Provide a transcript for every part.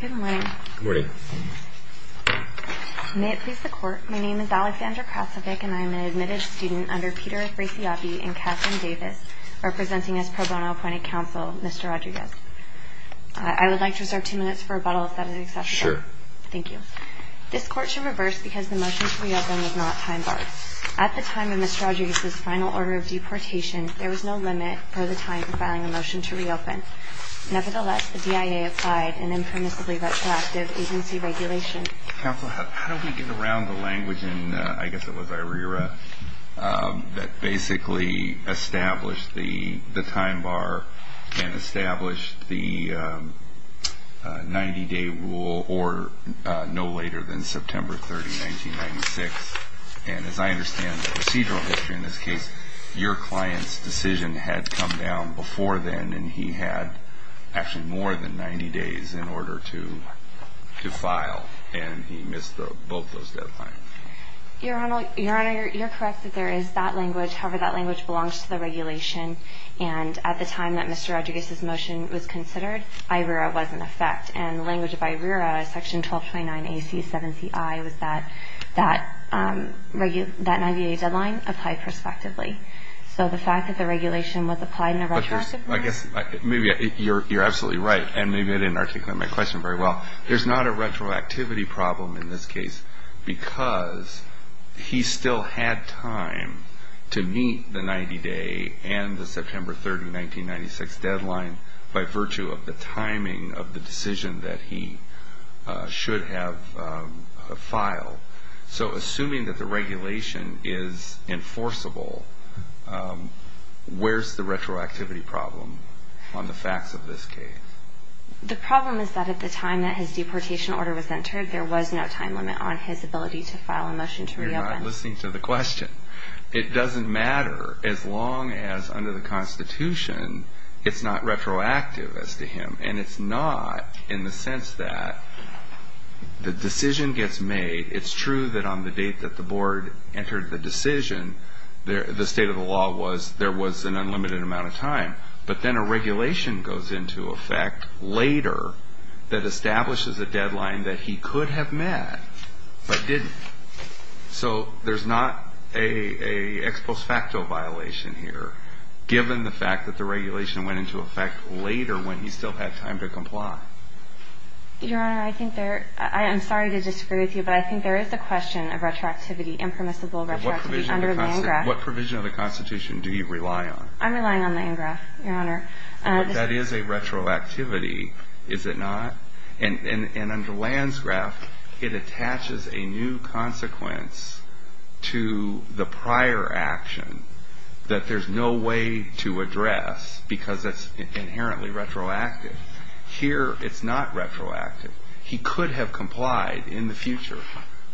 Good morning. Good morning. May it please the Court, my name is Alexandra Krasovic and I am an admitted student under Peter Afrasiabi and Catherine Davis, representing as pro bono appointed counsel, Mr. Rodriguez. I would like to reserve two minutes for rebuttal if that is acceptable. Sure. Thank you. This Court should reverse because the motion to reopen was not time-barred. At the time of Mr. Rodriguez's final order of deportation, there was no limit for the time for filing a motion to reopen. Nevertheless, the BIA applied an impermissibly retroactive agency regulation. Counsel, how do we get around the language in, I guess it was IRERA, that basically established the time-bar and established the 90-day rule or no later than September 30, 1996? And as I understand the procedural history in this case, your client's decision had come down before then and he had actually more than 90 days in order to file and he missed both those deadlines. Your Honor, you're correct that there is that language. However, that language belongs to the regulation. And at the time that Mr. Rodriguez's motion was considered, IRERA was in effect. And the language of IRERA, section 1229 AC 7CI, was that that 90-day deadline applied prospectively. So the fact that the regulation was applied in a retroactive manner. I guess maybe you're absolutely right, and maybe I didn't articulate my question very well. There's not a retroactivity problem in this case because he still had time to meet the 90-day and the September 30, 1996 deadline by virtue of the timing of the decision that he should have filed. So assuming that the regulation is enforceable, where's the retroactivity problem on the facts of this case? The problem is that at the time that his deportation order was entered, there was no time limit on his ability to file a motion to reopen. You're not listening to the question. It doesn't matter as long as under the Constitution, it's not retroactive as to him. And it's not in the sense that the decision gets made. It's true that on the date that the board entered the decision, the state of the law was there was an unlimited amount of time. But then a regulation goes into effect later that establishes a deadline that he could have met but didn't. So there's not a ex post facto violation here, given the fact that the regulation went into effect later when he still had time to comply. Your Honor, I'm sorry to disagree with you, but I think there is a question of retroactivity, impermissible retroactivity under the ANGRAF. What provision of the Constitution do you rely on? I'm relying on the ANGRAF, Your Honor. That is a retroactivity, is it not? And under Landsgraf, it attaches a new consequence to the prior action that there's no way to address because it's inherently retroactive. Here, it's not retroactive. He could have complied in the future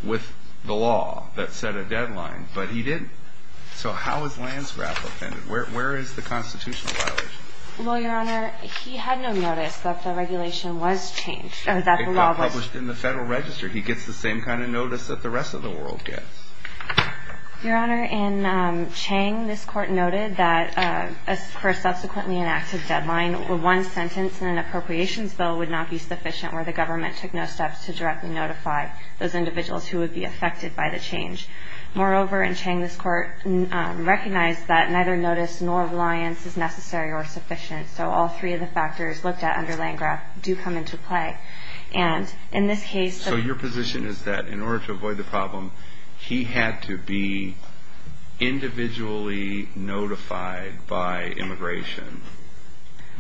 with the law that set a deadline, but he didn't. So how is Landsgraf offended? Where is the constitutional violation? Well, Your Honor, he had no notice that the regulation was changed. It got published in the Federal Register. He gets the same kind of notice that the rest of the world gets. Your Honor, in Chang, this Court noted that for a subsequently enacted deadline, one sentence in an appropriations bill would not be sufficient where the government took no steps to directly notify those individuals who would be affected by the change. Moreover, in Chang, this Court recognized that neither notice nor reliance is necessary or sufficient. So all three of the factors looked at under Landsgraf do come into play. And in this case the ---- He had to be individually notified by immigration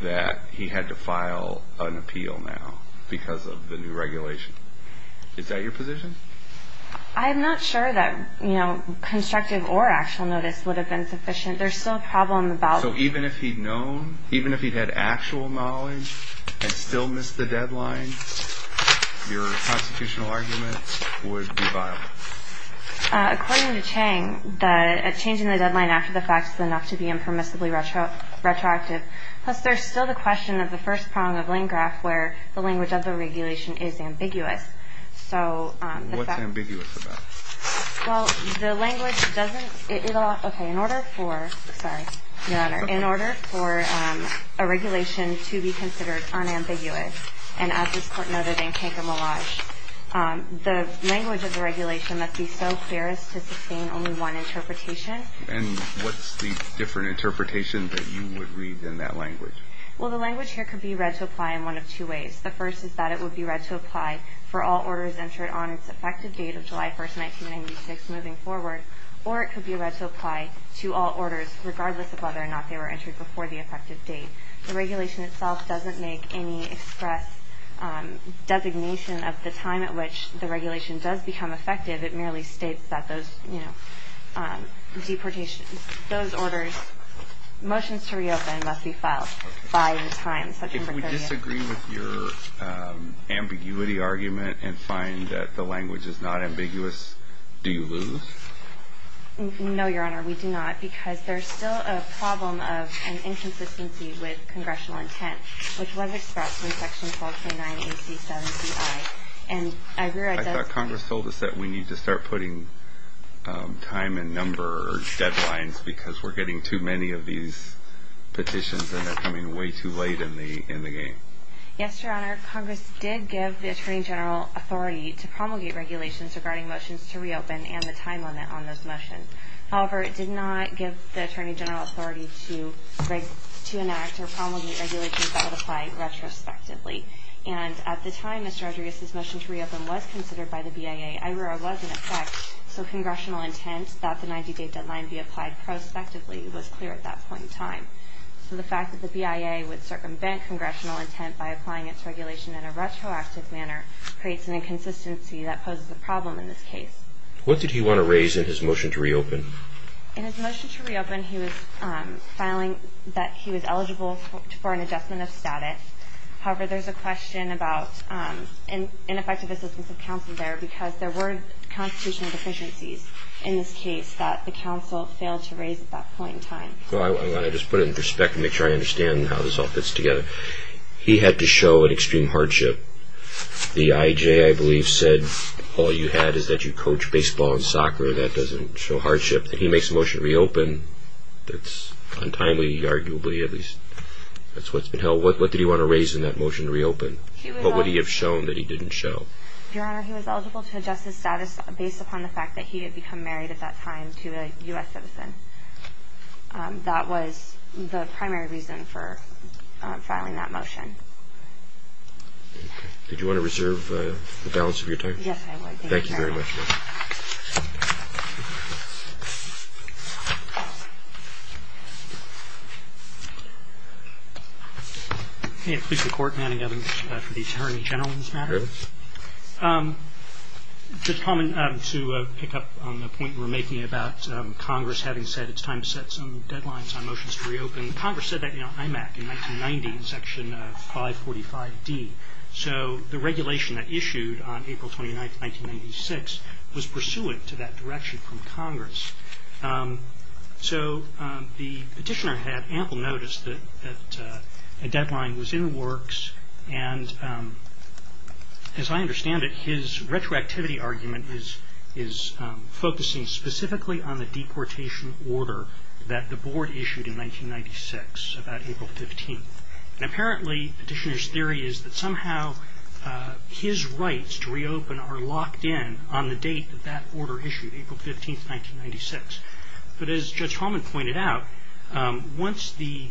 that he had to file an appeal now because of the new regulation. Is that your position? I'm not sure that constructive or actual notice would have been sufficient. There's still a problem about ---- So even if he'd known, even if he'd had actual knowledge and still missed the deadline, your constitutional argument would be viable? According to Chang, the change in the deadline after the fact is enough to be impermissibly retroactive. Plus, there's still the question of the first prong of Landgraf where the language of the regulation is ambiguous. So the fact ---- What's ambiguous about it? Well, the language doesn't ---- Okay. In order for ---- Sorry. Your Honor, in order for a regulation to be considered unambiguous and as this Court noted in Canker Millage, the language of the regulation must be so fierce to sustain only one interpretation. And what's the different interpretation that you would read in that language? Well, the language here could be read to apply in one of two ways. The first is that it would be read to apply for all orders entered on its effective date of July 1st, 1996, moving forward, or it could be read to apply to all orders regardless of whether or not they were entered before the effective date. The regulation itself doesn't make any express designation of the time at which the regulation does become effective. It merely states that those, you know, deportations ---- those orders, motions to reopen must be filed by the time such impertinence ---- Okay. If we disagree with your ambiguity argument and find that the language is not ambiguous, do you lose? No, Your Honor. We do not because there's still a problem of an inconsistency with congressional intent, which was expressed in Section 1229AC7CI. And I read that ---- I thought Congress told us that we need to start putting time and number deadlines because we're getting too many of these petitions and they're coming way too late in the game. Yes, Your Honor. Congress did give the Attorney General authority to promulgate regulations regarding motions to reopen and the time limit on those motions. However, it did not give the Attorney General authority to enact or promulgate regulations that would apply retrospectively. And at the time Mr. Rodriguez's motion to reopen was considered by the BIA, IROA was in effect so congressional intent that the 90-day deadline be applied prospectively was clear at that point in time. So the fact that the BIA would circumvent congressional intent by applying its regulation in a retroactive manner creates an inconsistency that poses a problem in this case. What did he want to raise in his motion to reopen? In his motion to reopen he was filing that he was eligible for an adjustment of status. However, there's a question about ineffective assistance of counsel there because there were constitutional deficiencies in this case that the counsel failed to raise at that point in time. Well, I want to just put it in perspective and make sure I understand how this all fits together. He had to show an extreme hardship. The IJ, I believe, said all you had is that you coach baseball and soccer and that doesn't show hardship. He makes a motion to reopen that's untimely, arguably at least. That's what's been held. What did he want to raise in that motion to reopen? What would he have shown that he didn't show? Your Honor, he was eligible to adjust his status based upon the fact that he had become married at that time to a U.S. citizen. That was the primary reason for filing that motion. Okay. Did you want to reserve the balance of your time? Yes, I would. Thank you very much. Thank you very much. May it please the Court, Manning Evans for the Attorney General's matter. Go ahead. Mr. Palmer, to pick up on the point you were making about Congress having said it's time to set some deadlines on motions to reopen, Congress said that in IMAC in 1990 in Section 545D. So the regulation that issued on April 29, 1996 was pursuant to that direction from Congress. So the petitioner had ample notice that a deadline was in the works. And as I understand it, his retroactivity argument is focusing specifically on the deportation order that the Board issued in 1996, about April 15. And apparently the petitioner's theory is that somehow his rights to reopen are locked in on the date that that order issued, April 15, 1996. But as Judge Holman pointed out, once the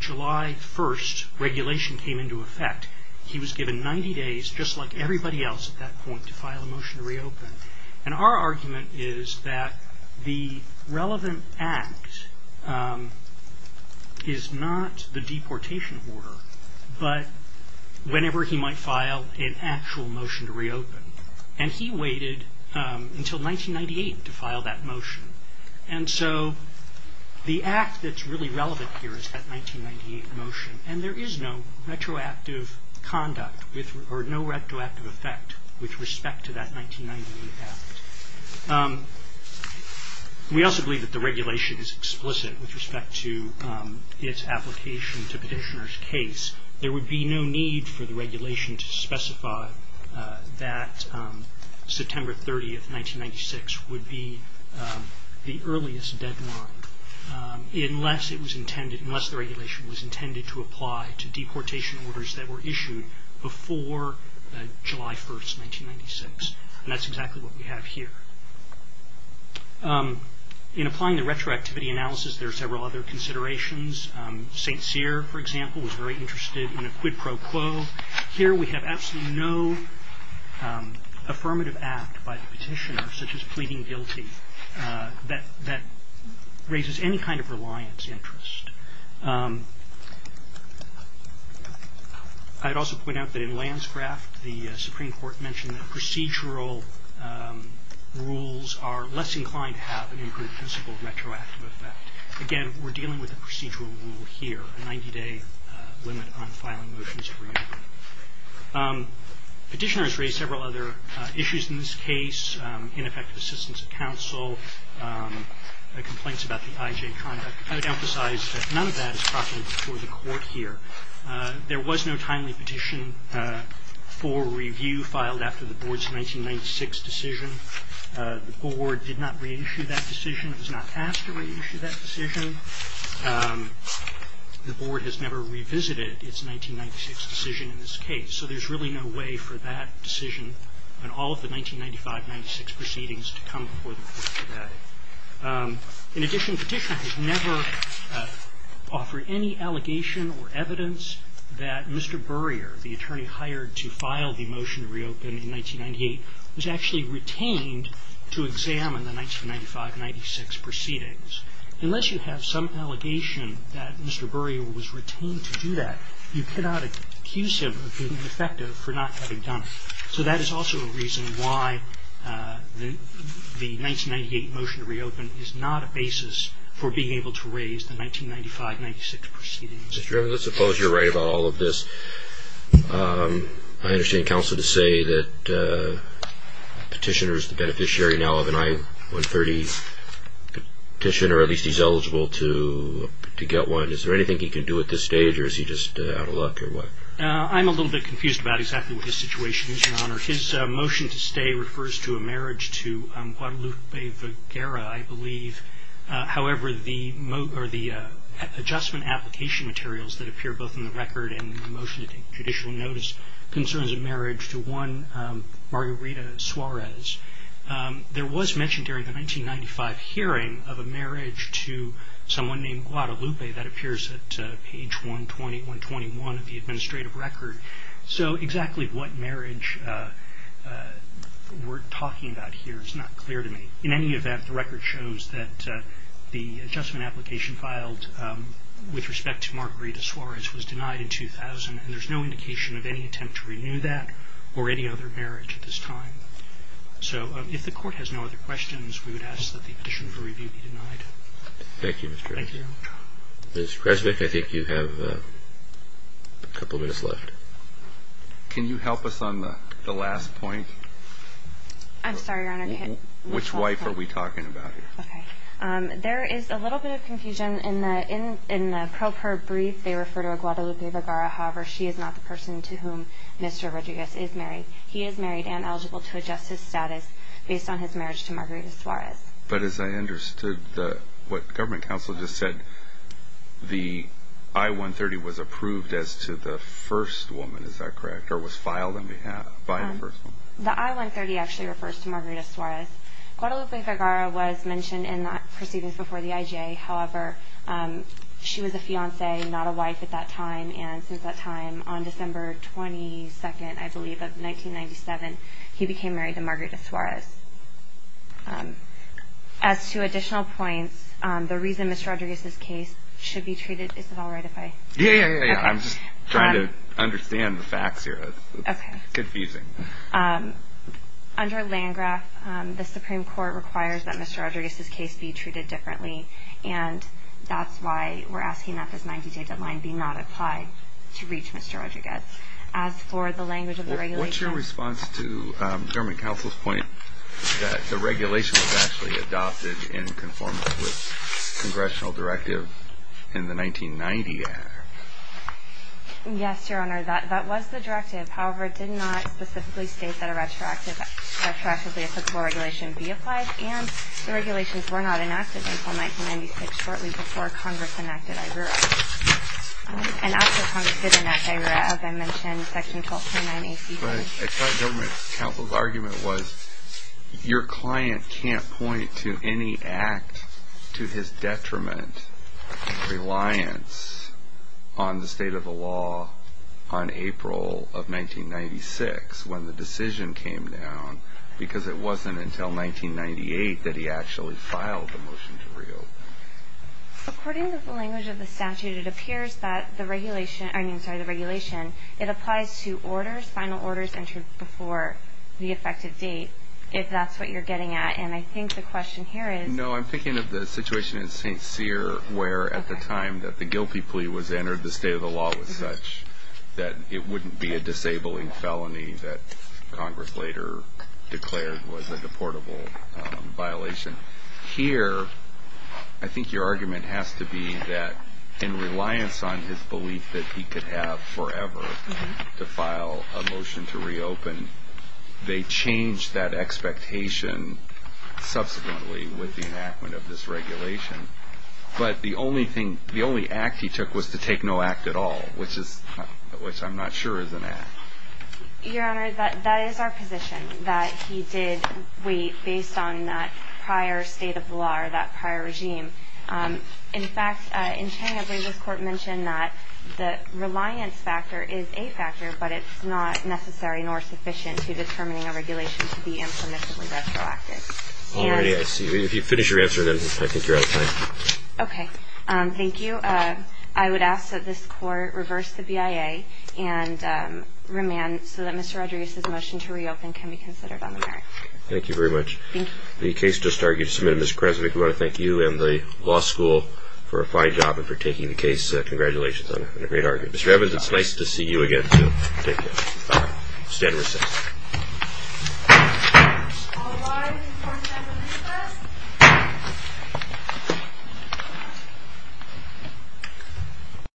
July 1 regulation came into effect, he was given 90 days, just like everybody else at that point, to file a motion to reopen. And our argument is that the relevant act is not the deportation order, but whenever he might file an actual motion to reopen. And he waited until 1998 to file that motion. And so the act that's really relevant here is that 1998 motion. And there is no retroactive conduct or no retroactive effect with respect to that 1998 act. We also believe that the regulation is explicit with respect to its application to petitioner's case. There would be no need for the regulation to specify that September 30, 1996 would be the earliest deadline, unless the regulation was intended to apply to deportation orders that were issued before July 1, 1996. And that's exactly what we have here. In applying the retroactivity analysis, there are several other considerations. St. Cyr, for example, was very interested in a quid pro quo. Here we have absolutely no affirmative act by the petitioner, such as pleading guilty, that raises any kind of reliance interest. I'd also point out that in Lanscraft, the Supreme Court mentioned that procedural rules are less inclined to have an improved principle of retroactive effect. Again, we're dealing with a procedural rule here, a 90-day limit on filing motions for reentry. Petitioners raised several other issues in this case, ineffective assistance of counsel, complaints about the IJ conduct. I would emphasize that none of that is proctored before the Court here. There was no timely petition for review filed after the Board's 1996 decision. The Board did not reissue that decision. It was not asked to reissue that decision. The Board has never revisited its 1996 decision in this case. So there's really no way for that decision and all of the 1995-96 proceedings to come before the Court today. In addition, the petitioner has never offered any allegation or evidence that Mr. Burrier, the attorney hired to file the motion to reopen in 1998, was actually retained to examine the 1995-96 proceedings. Unless you have some allegation that Mr. Burrier was retained to do that, you cannot accuse him of being ineffective for not having done it. So that is also a reason why the 1998 motion to reopen is not a basis for being able to raise the 1995-96 proceedings. I suppose you're right about all of this. I understand counsel to say that the petitioner is the beneficiary now of an I-130 petition, or at least he's eligible to get one. Is there anything he can do at this stage, or is he just out of luck or what? I'm a little bit confused about exactly what his situation is, Your Honor. His motion to stay refers to a marriage to Guadalupe Vergara, I believe. However, the adjustment application materials that appear both in the record and in the motion to take judicial notice concerns a marriage to one Margarita Suarez. There was mentioned during the 1995 hearing of a marriage to someone named Guadalupe that appears at page 120-121 of the administrative record. So exactly what marriage we're talking about here is not clear to me. In any event, the record shows that the adjustment application filed with respect to Margarita Suarez was denied in 2000, and there's no indication of any attempt to renew that or any other marriage at this time. So if the Court has no other questions, we would ask that the petition for review be denied. Thank you, Mr. Creswick. Thank you. Ms. Creswick, I think you have a couple minutes left. I'm sorry, Your Honor. Which wife are we talking about here? Okay. There is a little bit of confusion. In the pro per brief, they refer to a Guadalupe Vergara. However, she is not the person to whom Mr. Rodriguez is married. He is married and eligible to adjust his status based on his marriage to Margarita Suarez. But as I understood what Government Counsel just said, the I-130 was approved as to the first woman. Is that correct? Or was filed by the first woman? The I-130 actually refers to Margarita Suarez. Guadalupe Vergara was mentioned in the proceedings before the IJ. However, she was a fiancé, not a wife at that time. And since that time, on December 22nd, I believe, of 1997, he became married to Margarita Suarez. As to additional points, the reason Mr. Rodriguez's case should be treated, is it all right if I? Yeah, yeah, yeah. I'm just trying to understand the facts here. It's confusing. Under Landgraf, the Supreme Court requires that Mr. Rodriguez's case be treated differently. And that's why we're asking that this 90-day deadline be not applied to reach Mr. Rodriguez. As for the language of the regulation. What's your response to Government Counsel's point that the regulation was actually adopted in conformance with Congressional Directive in the 1990 Act? Yes, Your Honor, that was the directive. However, it did not specifically state that a retroactively applicable regulation be applied. And the regulations were not enacted until 1996, shortly before Congress enacted I.R.U.R.A. And after Congress did enact I.R.U.R.A., as I mentioned, Section 12.9A.C.A. But I thought Government Counsel's argument was, Your client can't point to any act to his detriment, reliance on the state of the law on April of 1996 when the decision came down, because it wasn't until 1998 that he actually filed the motion to reopen. According to the language of the statute, it appears that the regulation, I mean, sorry, the regulation, it applies to orders, final orders entered before the effective date, if that's what you're getting at. And I think the question here is No, I'm thinking of the situation in St. Cyr, where at the time that the Gilpie plea was entered, the state of the law was such that it wouldn't be a disabling felony that Congress later declared was a deportable violation. Here, I think your argument has to be that in reliance on his belief that he could have forever to file a motion to reopen, they changed that expectation subsequently with the enactment of this regulation. But the only act he took was to take no act at all, which I'm not sure is an act. Your Honor, that is our position, that he did wait based on that prior state of the law or that prior regime. In fact, in Chamber, this Court mentioned that the reliance factor is a factor, but it's not necessary nor sufficient to determining a regulation to be impermissibly retroactive. All right. I see. If you finish your answer, then I think you're out of time. Okay. Thank you. I would ask that this Court reverse the BIA and remand so that Mr. Rodriguez's motion to reopen can be considered on the merits. Thank you very much. Thank you. The case just argued and submitted. Ms. Krasnick, we want to thank you and the law school for a fine job and for taking the case. Congratulations on a great argument. Mr. Evans, it's nice to see you again, too. Thank you. Stand recessed. All rise for a moment of recess.